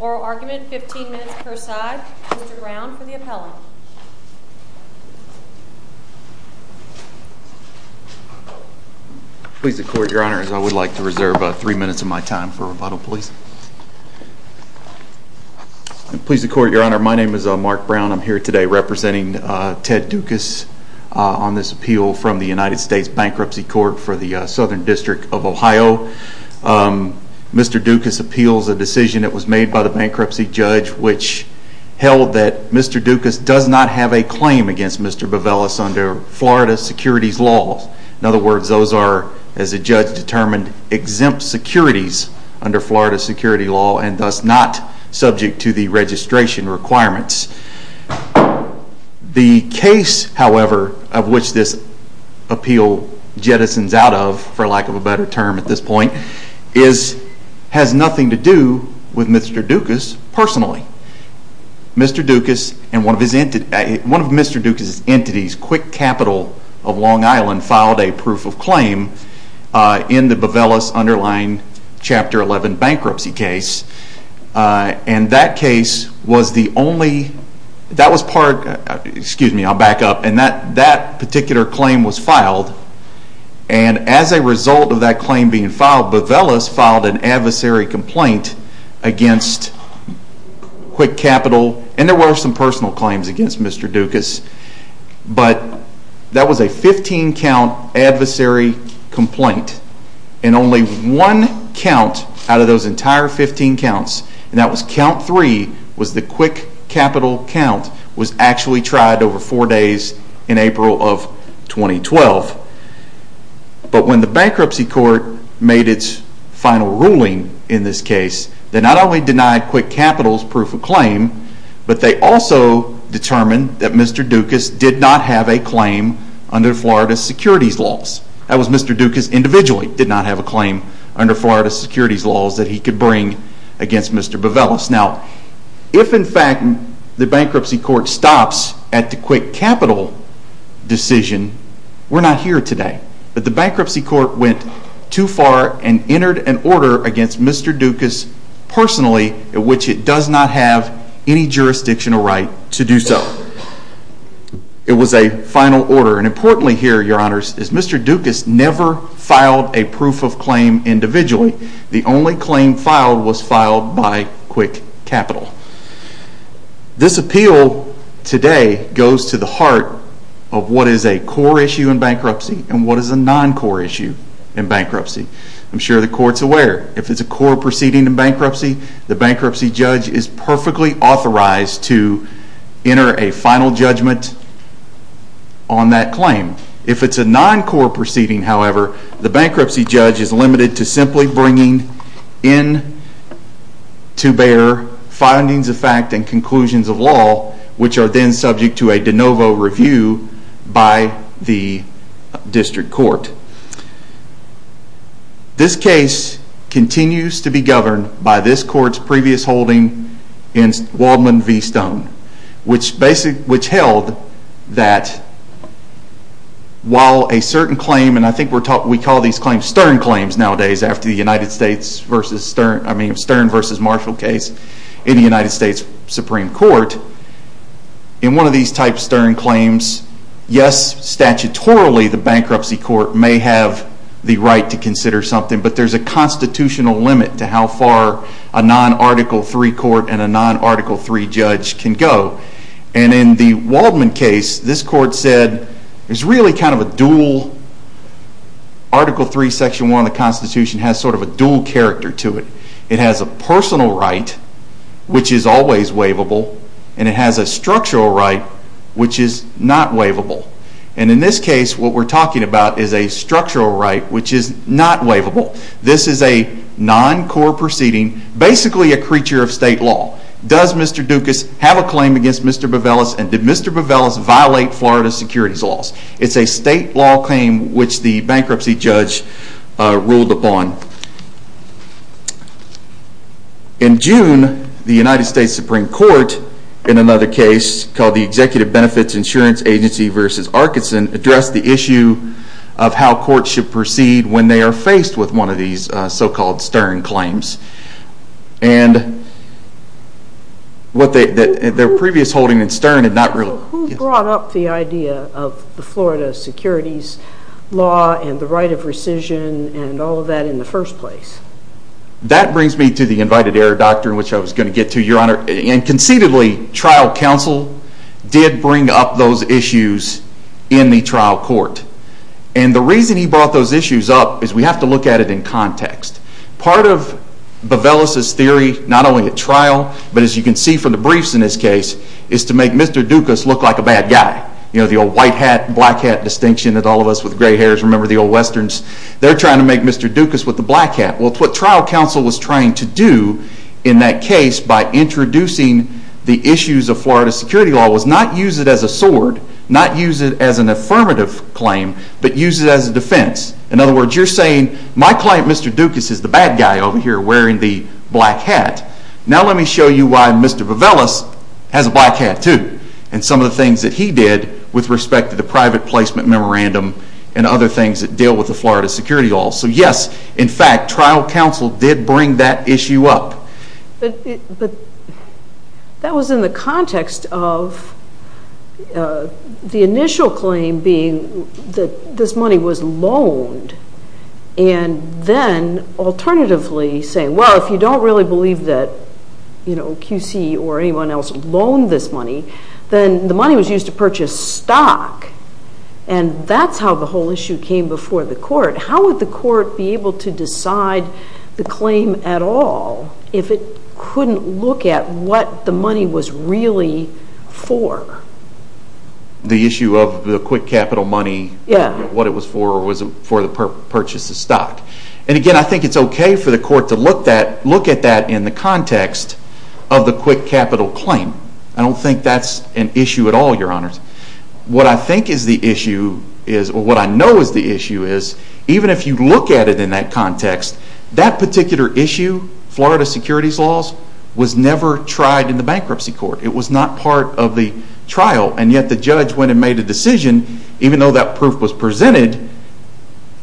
oral argument, 15 minutes per side. Mr. Brown for the appellant. Please the court, your honor, as I would like to reserve three minutes of my time for rebuttal, please. Please the court, your honor, my name is Mark Brown. I'm here today representing Ted Doukas on this appeal from the United States Bankruptcy Court for the Southern District of Ohio. Mr. Doukas appeals a decision that was made by the bankruptcy judge which held that Mr. Doukas does not have a claim against Mr. Bavelis under Florida securities law. In other words, those are, as the judge determined, exempt securities under Florida security law and thus not subject to the registration requirements. The case, however, of which this appeal jettisons out of, for lack of a better term at this point, has nothing to do with Mr. Doukas personally. Mr. Doukas and one of Mr. Doukas' entities, Quick Capital of Long Island filed a proof of claim in the Bavelis underlying Chapter 11 bankruptcy case and that case was the only, that was part, excuse me, I'll back up, and that particular claim was filed and as a result of that claim being filed, Bavelis filed an adversary complaint against Quick Capital and there were some personal claims against Mr. Doukas, but that was a 15 count adversary complaint and only one count out of those entire 15 counts was count three, was the Quick Capital count, was actually tried over four days in April of 2012. But when the bankruptcy court made its final ruling in this case, they not only denied Quick Capital's proof of claim, but they also determined that Mr. Doukas did not have a claim under Florida securities laws. That was Mr. Doukas individually did not have a claim under Florida securities laws that he could bring against Mr. Bavelis. Now, if in fact the bankruptcy court stops at the Quick Capital decision, we're not here today. But the bankruptcy court went too far and entered an order against Mr. Doukas personally in which it does not have any jurisdictional right to do so. It was a final order and importantly here, your honors, is Mr. Doukas never filed a proof of claim individually. The only claim filed was filed by Quick Capital. This appeal today goes to the heart of what is a core issue in bankruptcy and what is a non-core issue in bankruptcy. I'm sure the court's aware if it's a core proceeding in bankruptcy, the bankruptcy judge is perfectly authorized to enter a final judgment on that claim. If it's a non-core proceeding, however, the bankruptcy judge is limited to simply bringing in to bear findings of fact and conclusions of law which are then subject to a de novo review by the district court. This case continues to be governed by this court's previous holding in Waldman v. Stone, which held that while a certain claim, and I think we call these claims Stern claims nowadays after the Stern versus Marshall case in the United States Supreme Court, in one of these types of Stern claims, yes, statutorily the bankruptcy court may have the right to consider something, but there's a constitutional limit to how far a non-Article III court and a non-Article III judge can go. And in the Waldman case, this court said there's really kind of a dual Article III, Section 1 of the Constitution has sort of a dual character to it. It has a personal right, which is always waivable, and it has a structural right, which is not waivable. And in this case, what we're talking about is a structural right, which is not waivable. This is a non-core proceeding, basically a creature of state law. Does Mr. Dukas have a claim against Mr. Bovellis, and did Mr. Bovellis violate Florida securities laws? It's a state law claim which the bankruptcy judge ruled upon. In June, the United States Supreme Court, in another case called the Executive Benefits Insurance Agency v. Arkinson, addressed the issue of how courts should proceed when they are faced with one of these so-called stern claims. And their previous holding in stern had not really... Who brought up the idea of the Florida securities law and the right of rescission and all of that in the first place? That brings me to the invited error doctrine, which I was going to get to, Your Honor. And conceitedly, trial counsel did bring up those issues in the trial court. And the reason he brought those issues up is we have to look at it in context. Part of Bovellis' theory, not only at trial, but as you can see from the briefs in this case, is to make Mr. Dukas look like a bad guy. You know, the old white hat, black hat distinction that all of us with gray hairs remember, the old westerns. They're trying to make Mr. Dukas with the black hat. Well, what trial counsel was trying to do in that case by introducing the issues of Florida security law was not use it as a sword, not use it as an affirmative claim, but use it as a defense. In other words, you're saying, my client, Mr. Dukas, is the bad guy over here wearing the black hat. Now let me show you why Mr. Bovellis has a black hat too. And some of the things that he did with respect to the private placement memorandum and other things that deal with the Florida security law. So yes, in fact, trial counsel did bring that issue up. But that was in the context of the initial claim being that this money was loaned and then alternatively saying, well, if you don't really believe that QC or anyone else loaned this money, then the money was used to purchase stock. And that's how the whole issue came before the court. How would the court be able to decide the claim at all if it couldn't look at what the money was really for? The issue of the quick capital money, what it was for, was it for the purchase of stock. And again, I think it's okay for the court to look at that in the context of the quick capital claim. I don't think that's an issue at all, Your Honors. What I think is the issue is, or what I know is the issue is, even if you look at it in that context, that particular issue, Florida securities laws, was never tried in the bankruptcy court. It was not part of the trial. And yet the judge, when it made a decision, even though that proof was presented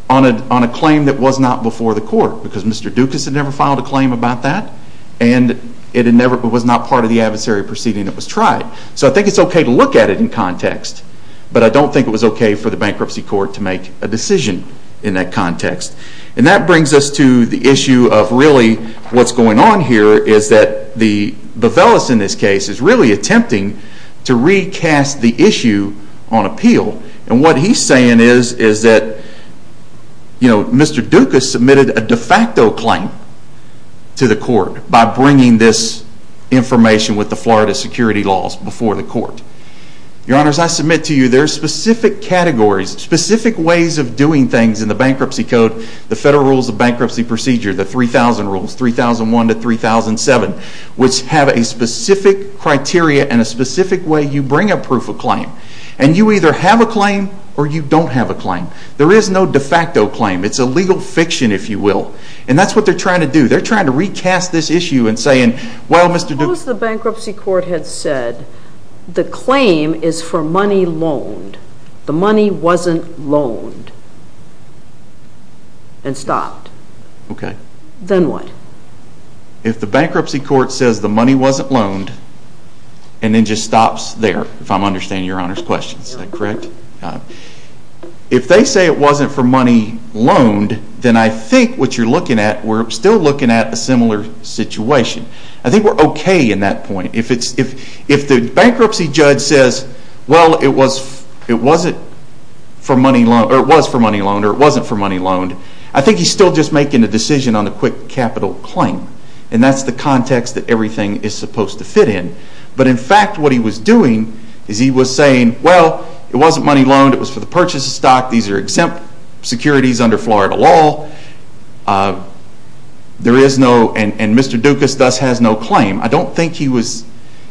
on a claim that was not before the court, because Mr. Dukas had never filed a claim about that, and it was not part of the adversary proceeding that was tried. So I think it's okay to look at it in context, but I don't think it was okay for the bankruptcy court to make a decision in that context. And that brings us to the issue of really what's going on here is that the Bevelis in this case is really attempting to recast the issue on appeal. And what he's saying is that Mr. Dukas submitted a de facto claim to the court by bringing this information with the Florida security laws before the court. Your Honors, I submit to you there are specific categories, specific ways of doing things in the bankruptcy code, the Federal Rules of Bankruptcy Procedure, the 3000 rules, 3001 to 3007, which have a specific criteria and a specific way you bring a proof of claim. And you either have a claim or you don't have a claim. There is no de facto claim. It's a legal fiction, if you will. And that's what they're trying to do. They're trying to recast this issue and saying, well, Mr. Dukas Suppose the bankruptcy court had said the claim is for money loaned, the money wasn't loaned and stopped. Then what? If the bankruptcy court says the money wasn't loaned and then just stops there, if I'm understanding Your Honors' question, is that correct? If they say it wasn't for money loaned, then I think what you're looking at, we're still looking at a similar situation. I think we're okay in that point. If the bankruptcy judge says, well, it was for money loaned or it wasn't for money loaned, I think he's still just making a decision on the quick capital claim. And that's the context that everything is supposed to fit in. But in fact, what he was doing is he was saying, well, it wasn't money loaned, it was for the purchase of stock, these are exempt securities under Florida law, and Mr. Dukas thus has no claim. I don't think he was,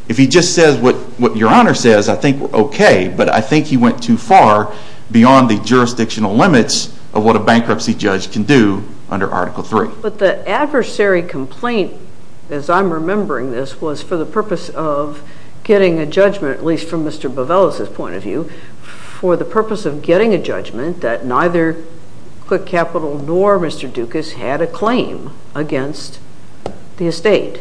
if he just says what Your Honor says, I think we're okay. But I think he went too far beyond the jurisdictional limits of what a bankruptcy judge can do under Article 3. But the adversary complaint, as I'm remembering this, was for the purpose of getting a judgment, at least from Mr. Bovellos' point of view, for the purpose of getting a judgment that neither quick capital nor Mr. Dukas had a claim against the estate.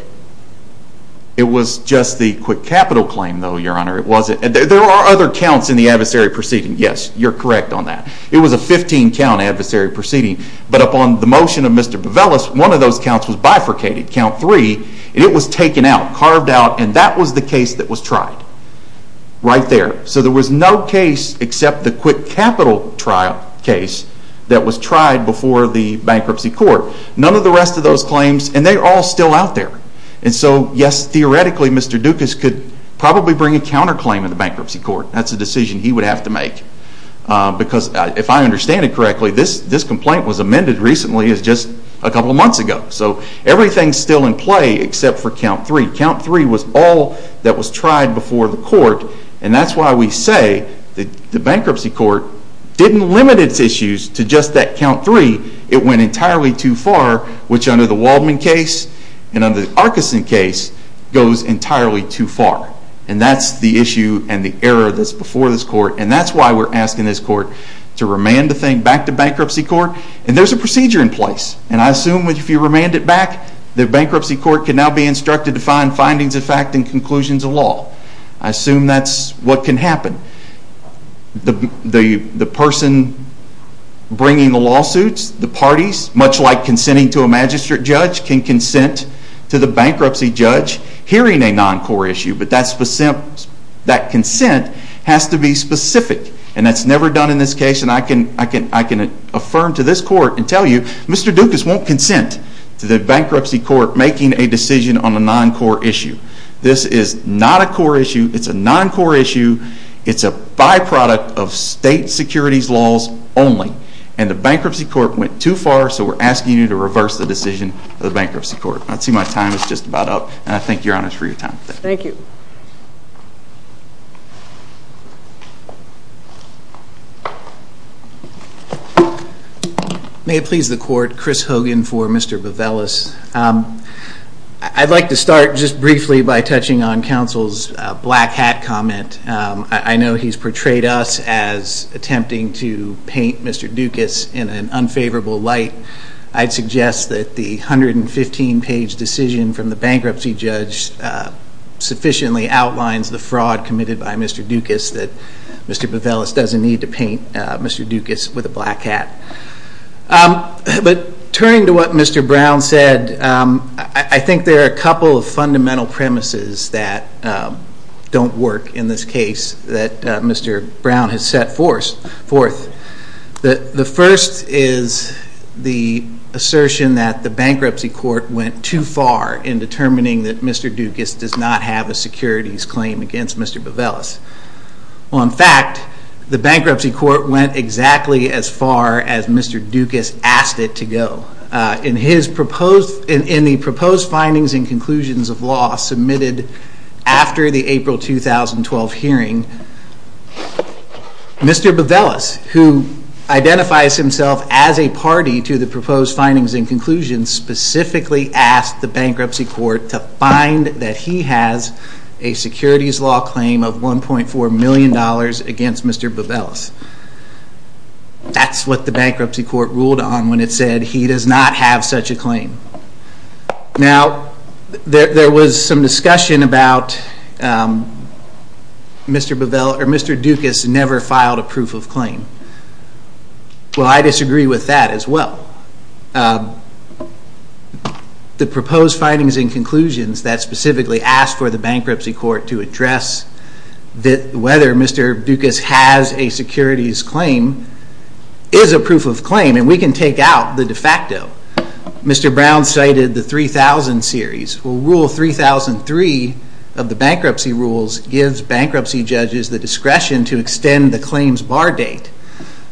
It was just the quick capital claim, though, Your Honor. It wasn't, there are other counts in the adversary proceeding, yes, you're correct on that. It was a 15 count adversary proceeding, but upon the motion of Mr. Bovellos, one of those counts was bifurcated, count 3, and it was taken out, carved out, and that was the case that was tried, right there. So there was no case except the quick capital trial case that was tried before the bankruptcy court. None of the rest of those claims, and they're all still out there. And so yes, theoretically, Mr. Dukas could probably bring a counterclaim in the bankruptcy court. That's a decision he would have to make, because if I understand it correctly, this complaint was amended recently just a couple of months ago. So everything's still in play except for count 3. Count 3 was all that was tried before the court, and that's why we say the bankruptcy court didn't limit its issues to just that count 3. It went entirely too far, which under the Waldman case and under the Arkeson case, goes entirely too far. And that's the issue and the error that's before this court, and that's why we're asking this court to remand the thing back to bankruptcy court. And there's a procedure in place, and I assume if you remand it back, the bankruptcy court can now be instructed to find findings of fact and conclusions of law. I assume that's what can happen. The person bringing the lawsuits, the parties, much like consenting to a magistrate judge, can consent to the bankruptcy judge hearing a non-core issue, but that consent has to be specific, and that's never done in this case, and I can affirm to this court and tell you, Mr. Dukas won't consent to the bankruptcy court making a decision on a non-core issue. This is not a core issue. It's a non-core issue. It's a byproduct of state securities laws only, and the bankruptcy court went too far, so we're asking you to reverse the decision of the bankruptcy court. I see my time is just about up, and I thank Your Honor for your time today. Thank you. May it please the court, Chris Hogan for Mr. Bevelis. I'd like to start just briefly by touching on counsel's black hat comment. I know he's portrayed us as attempting to paint Mr. Dukas in an unfavorable light. I'd suggest that the 115-page decision from the bankruptcy judge sufficiently outlines the fraud committed by Mr. Dukas that Mr. Bevelis doesn't need to paint Mr. Dukas with a black hat. But turning to what Mr. Brown said, I think there are a couple of fundamental premises that don't work in this case that Mr. Brown has set forth. The first is the assertion that the bankruptcy court went too far in determining that Mr. Dukas does not have a bankruptcy court went exactly as far as Mr. Dukas asked it to go. In the proposed findings and conclusions of law submitted after the April 2012 hearing, Mr. Bevelis, who identifies himself as a party to the proposed findings and conclusions, specifically asked the bankruptcy court to find that he has a securities law claim of $1.4 million against Mr. Bevelis. That's what the bankruptcy court ruled on when it said he does not have such a claim. Now there was some discussion about Mr. Dukas never filed a proof of claim. Well, I disagree with that as well. The proposed findings and conclusions that specifically asked for the bankruptcy court to address whether Mr. Dukas has a securities claim is a proof of claim and we can take out the de facto. Mr. Brown cited the 3000 series. Rule 3003 of the bankruptcy rules gives bankruptcy judges the discretion to extend the claims bar date.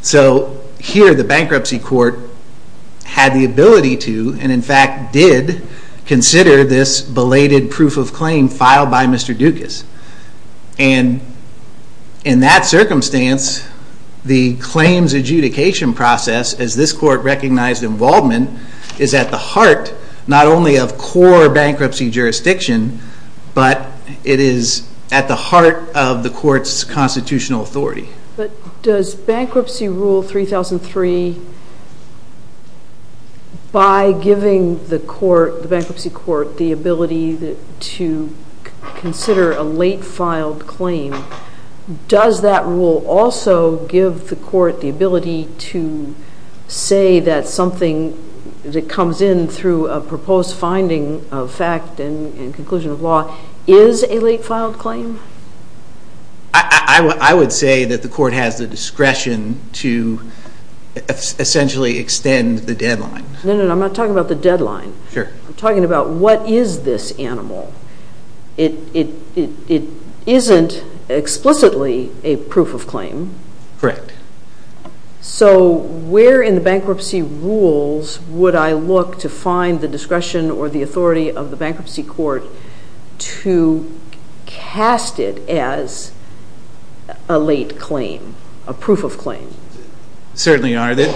So here the bankruptcy court had the ability to and in fact did consider this belated proof of claim filed by Mr. Dukas. And in that circumstance, the claims adjudication process, as this court recognized in Waldman, is at the heart not only of core bankruptcy jurisdiction but it is at the heart of the court's constitutional authority. But does bankruptcy rule 3003, by giving the bankruptcy court the ability to consider a late filed claim, does that rule also give the court the ability to say that something that comes in through a proposed finding of fact and conclusion of law is a late filed claim? I would say that the court has the discretion to essentially extend the deadline. No, no, I'm not talking about the deadline. I'm talking about what is this animal. It isn't explicitly a proof of claim. Correct. So where in the bankruptcy rules would I look to find the discretion or the authority of the bankruptcy court to cast it as a late claim, a proof of claim? Certainly, Your Honor.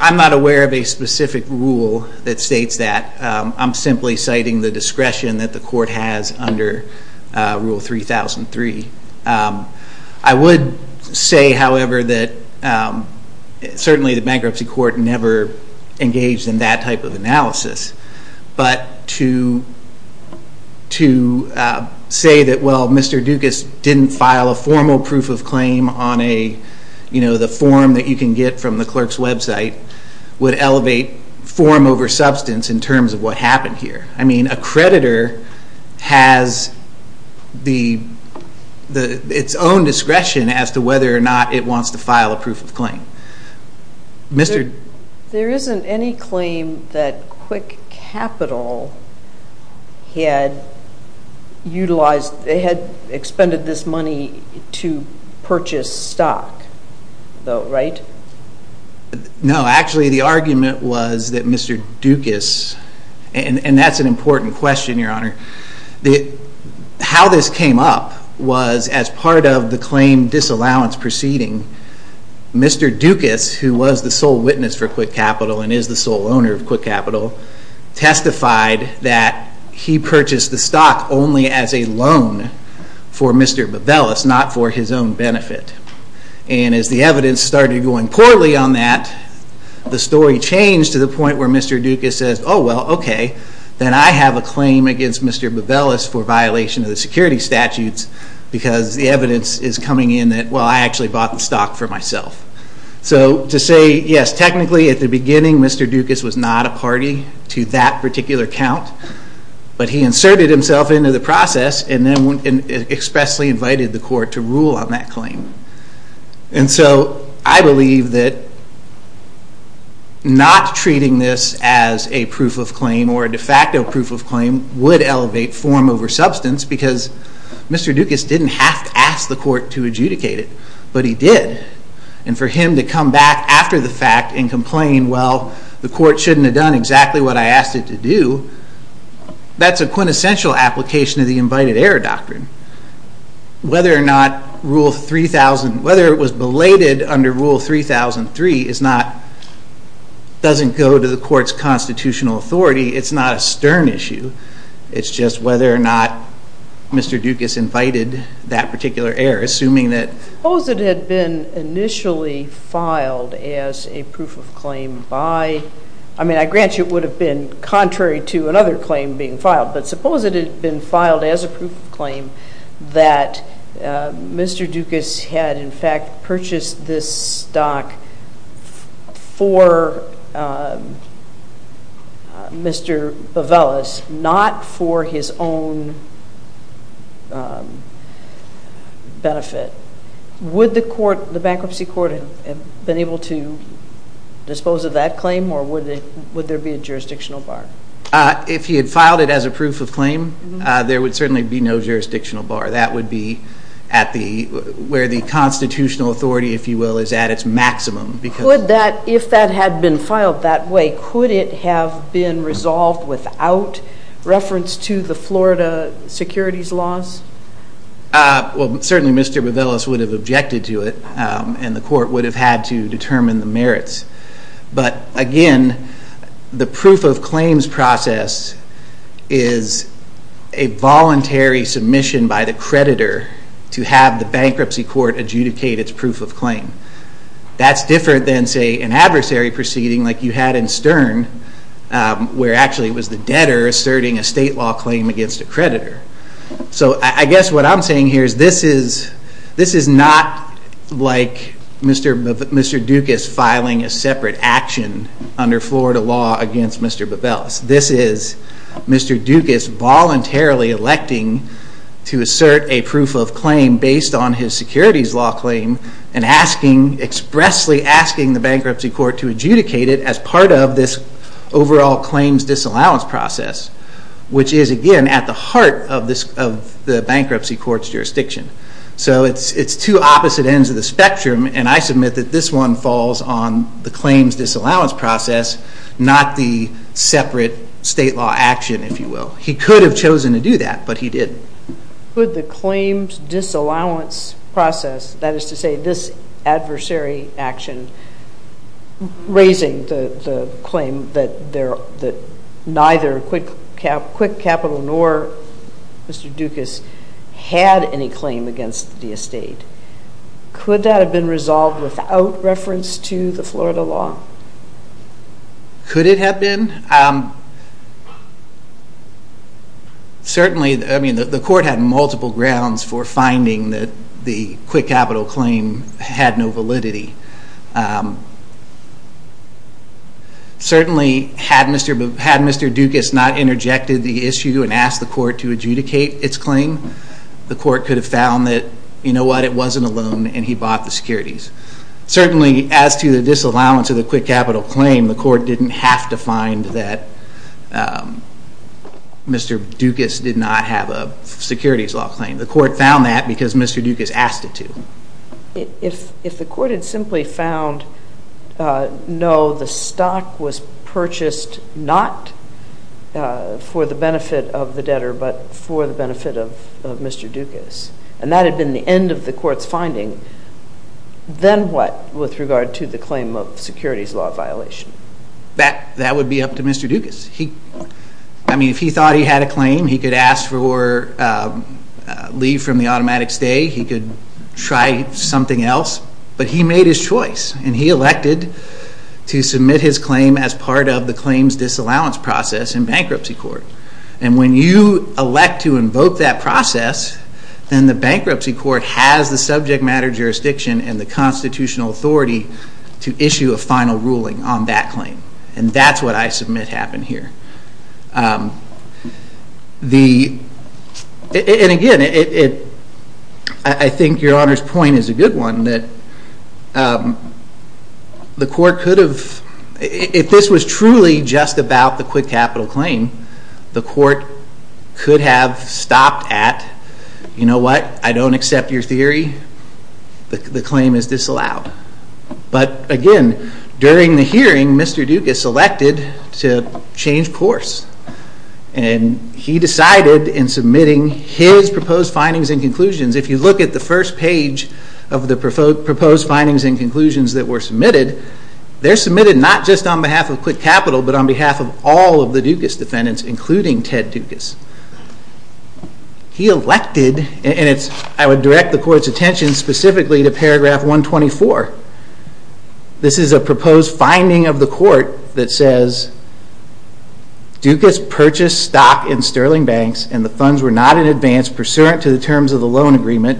I'm not aware of a specific rule that states that. I'm simply citing the discretion that the court has under rule 3003. I would say, however, that certainly the bankruptcy court never engaged in that type of analysis. But to say that, well, Mr. Dukas didn't file a formal proof of claim on a, you know, the form that you can get from the clerk's website, would elevate form over substance in terms of what happened here. I mean, a creditor has its own discretion as to whether or not it wants to file a proof of claim. There isn't any claim that Quick Capital had utilized, they had expended this money to purchase stock, though, right? No, actually, the argument was that Mr. Dukas, and that's an important question, Your Honor, how this came up was as part of the claim disallowance proceeding, Mr. Dukas, who was the sole witness for Quick Capital and is the sole owner of Quick Capital, testified that he purchased the stock only as a loan for Mr. Babelis, not for his own benefit. And as the evidence started going poorly on that, the story changed to the point where Mr. Dukas says, oh, well, okay, then I have a claim against Mr. Babelis for violation of the security statutes, because the evidence is coming in that, well, I actually bought the stock for myself. So to say, yes, technically, at the beginning, Mr. Dukas was not a party to that particular count, but he inserted himself into the process and then expressly invited the court to rule on that claim. And so I believe that not treating this as a proof of claim or a de facto proof of claim would elevate form over substance, because Mr. Dukas didn't have to ask the court to adjudicate it, but he did. And for him to come back after the fact and complain, well, the court shouldn't have done exactly what I asked it to do, that's a quintessential application of the invited error whether it was belated under Rule 3003 doesn't go to the court's constitutional authority. It's not a stern issue. It's just whether or not Mr. Dukas invited that particular error, assuming that Suppose it had been initially filed as a proof of claim by, I mean, I grant you it would have been contrary to another claim being filed, but suppose it had been filed as a proof of claim that Mr. Dukas had, in fact, purchased this stock for Mr. Bovellos, not for his own benefit. Would the court, the bankruptcy court, have been able to dispose of that claim or would it, would there be a jurisdictional bar? If he had filed it as a proof of claim, there would certainly be no jurisdictional bar. That would be at the, where the constitutional authority, if you will, is at its maximum. Could that, if that had been filed that way, could it have been resolved without reference to the Florida securities laws? Well, certainly Mr. Bovellos would have objected to it and the court would have had to determine the merits. But again, the proof of claims process is a voluntary submission by the creditor to have the bankruptcy court adjudicate its proof of claim. That's different than, say, an adversary proceeding like you had in Stern, where actually it was the debtor asserting a state law claim against a creditor. So I guess what I'm saying here is this is, this is not like Mr. Dukas filing a separate action under Florida law against Mr. Bovellos. This is Mr. Dukas voluntarily electing to assert a proof of claim based on his securities law claim and asking, expressly asking the bankruptcy court to adjudicate it as part of this overall claims disallowance process, which is again at the heart of this, of the bankruptcy court's jurisdiction. So it's two opposite ends of the spectrum and I submit that this one falls on the claims disallowance process, not the separate state law action, if you will. He could have chosen to do that, but he didn't. Could the claims disallowance process, that is to say, this adversary action raising the claim that neither Quick Capital nor Mr. Dukas had any claim against the estate, could that have been resolved without reference to the Florida law? Could it have been? Certainly, I mean, the court had multiple grounds for finding that the Quick Capital claim had no validity. Certainly, had Mr. Dukas not interjected the issue and asked the court to adjudicate its claim, the court could have found that, you know what, it wasn't a loan and he bought the securities. Certainly, as to the disallowance of the Quick Capital claim, the court didn't have to find that Mr. Dukas did not have a securities law claim. The court found that because Mr. Dukas asked it to. If the court had simply found, no, the stock was purchased not for the benefit of the debtor, but for the benefit of Mr. Dukas, and that had been the end of the court's finding, then what with regard to the claim of securities law violation? That would be up to Mr. Dukas. I mean, if he thought he had a claim, he could ask for leave from the automatic stay, he could try something else, but he made his choice and he elected to submit his claim as part of the claims disallowance process in bankruptcy court. And when you elect to invoke that process, then the bankruptcy court has the subject matter jurisdiction and the constitutional authority to issue a final ruling on that claim. And that's what I submit happened here. And again, I think Your Honor's point is a good one, that the court could have... If this was truly just about the Quick Capital claim, the court could have stopped at, you know what, I don't accept your theory, the claim is disallowed. But again, during the hearing, Mr. Dukas elected to change course. And he decided in submitting his proposed findings and conclusions, if you look at the first page of the proposed findings and conclusions that were submitted, they're submitted not just on behalf of Quick Capital, but on behalf of all of the Dukas defendants, including Ted Dukas. He elected, and I would direct the court's attention specifically to paragraph 124. This is a proposed finding of the court that says, Dukas purchased stock in Sterling Banks and the funds were not in advance pursuant to the terms of the loan agreement.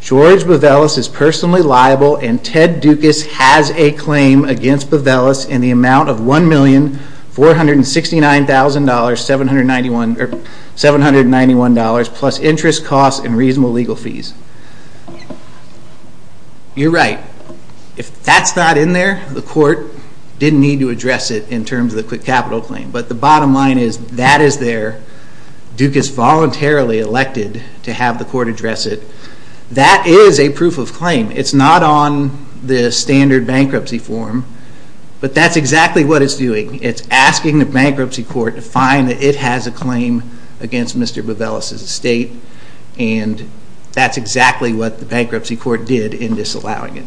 George Bevelis is personally liable and Ted Dukas has a claim against Bevelis in the amount of $1,469,791 plus interest costs and reasonable legal fees. You're right. If that's not in there, the court didn't need to address it in terms of the Quick Capital claim. But the bottom line is, that is there. Dukas voluntarily elected to have the But that's exactly what it's doing. It's asking the bankruptcy court to find that it has a claim against Mr. Bevelis' estate and that's exactly what the bankruptcy court did in disallowing it.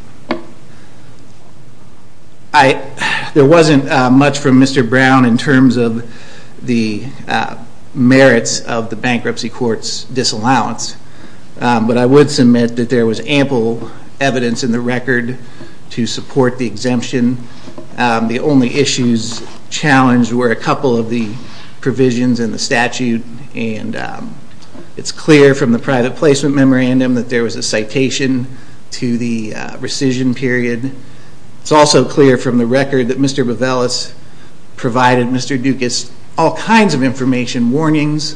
There wasn't much from Mr. Brown in terms of the merits of the bankruptcy court's disallowance, but I would submit that there was ample evidence in the record to support the exemption The only issues challenged were a couple of the provisions in the statute and it's clear from the private placement memorandum that there was a citation to the rescission period. It's also clear from the record that Mr. Bevelis provided Mr. Dukas all kinds of information, warnings,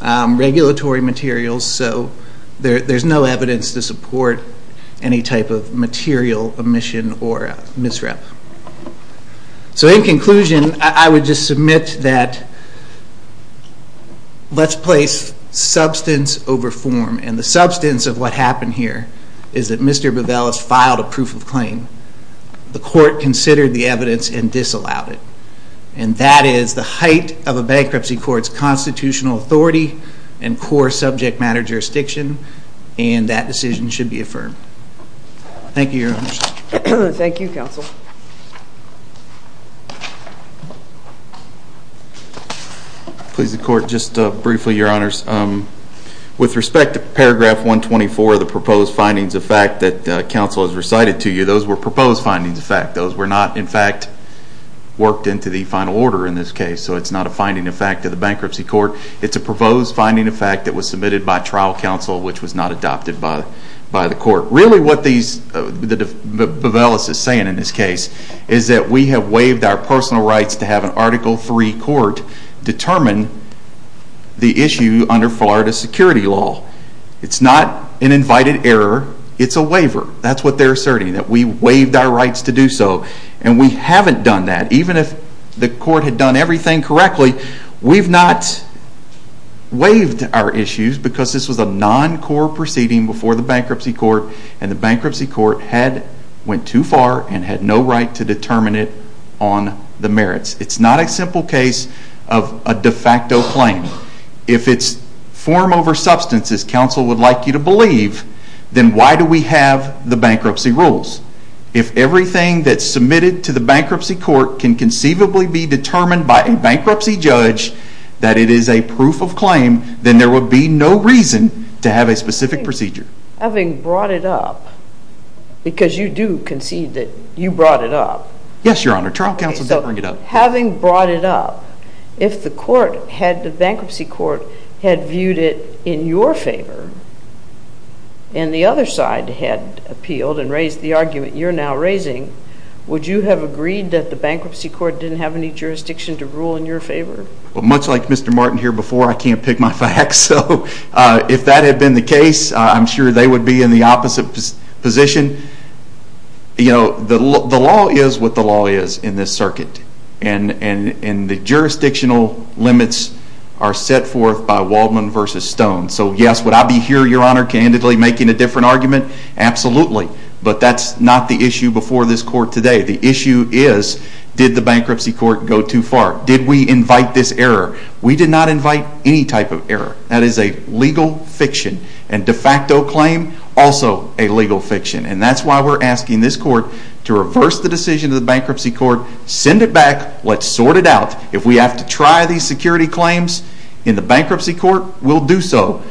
regulatory materials, so there's no evidence to support any type of material omission or misrep. So in conclusion, I would just submit that let's place substance over form and the substance of what happened here is that Mr. Bevelis filed a proof of claim. The court considered the evidence and disallowed it and that is the height of a bankruptcy court's constitutional authority and core subject matter jurisdiction and that decision should be affirmed. Thank you, Your Honor. Thank you, Counsel. Please, the court, just briefly, Your Honors. With respect to paragraph 124 of the proposed findings of fact that counsel has recited to you, those were proposed findings of fact. Those were not in fact worked into the final order in this case, so it's not a finding of fact of the bankruptcy court. It's a proposed finding of fact that was submitted by trial counsel which was not adopted by the court. Really what Bevelis is saying in this case is that we have waived our personal rights to have an article 3 court determine the issue under Florida security law. It's not an invited error, it's a waiver. That's what they're asserting, that we waived our rights to do so and we haven't done that. Even if the court had done everything correctly, we've not waived our proceeding before the bankruptcy court and the bankruptcy court had went too far and had no right to determine it on the merits. It's not a simple case of a de facto claim. If it's form over substance, as counsel would like you to believe, then why do we have the bankruptcy rules? If everything that's submitted to the bankruptcy court can conceivably be determined by a bankruptcy judge that it is a proof of claim, then there would be no reason to have a specific procedure. Having brought it up, because you do concede that you brought it up. Yes, your honor. Trial counsel did bring it up. Having brought it up, if the bankruptcy court had viewed it in your favor and the other side had appealed and raised the argument you're now raising, would you have agreed that the bankruptcy court didn't have any jurisdiction to rule in your favor? Much like Mr. Martin here before, I can't pick my facts. If that had been the case, I'm sure they would be in the opposite position. The law is what the law is in this circuit and the jurisdictional limits are set forth by Waldman v. Stone. Yes, would I be here, your honor, candidly making a different argument? Absolutely, but that's not the issue before this court today. The issue is, did the bankruptcy court go too far? Did we invite this error? We did not invite any type of error. That is a legal fiction and de facto claim, also a legal fiction. That's why we're asking this court to reverse the decision of the bankruptcy court, send it back, let's sort it out. If we have to try these security claims in the bankruptcy court, we'll do so.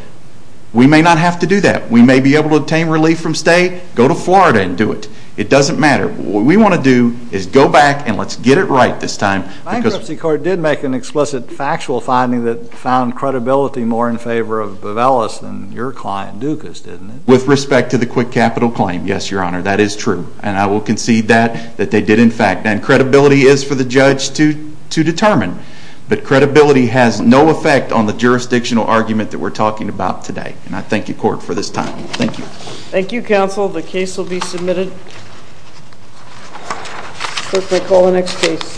We may not have to do that. We may be able to obtain relief from stay, go to Florida and do it. It doesn't matter. What we want to do is go back and let's get it right this time. The bankruptcy court did make an explicit factual finding that found credibility more in favor of Bevelis than your client Dukas, didn't it? With respect to the quick capital claim, yes, your honor, that is true. And I will concede that, that they did in fact. And credibility is for the judge to determine, but credibility has no effect on the jurisdictional argument that we're talking about today. And I concede it. That's my call on next case.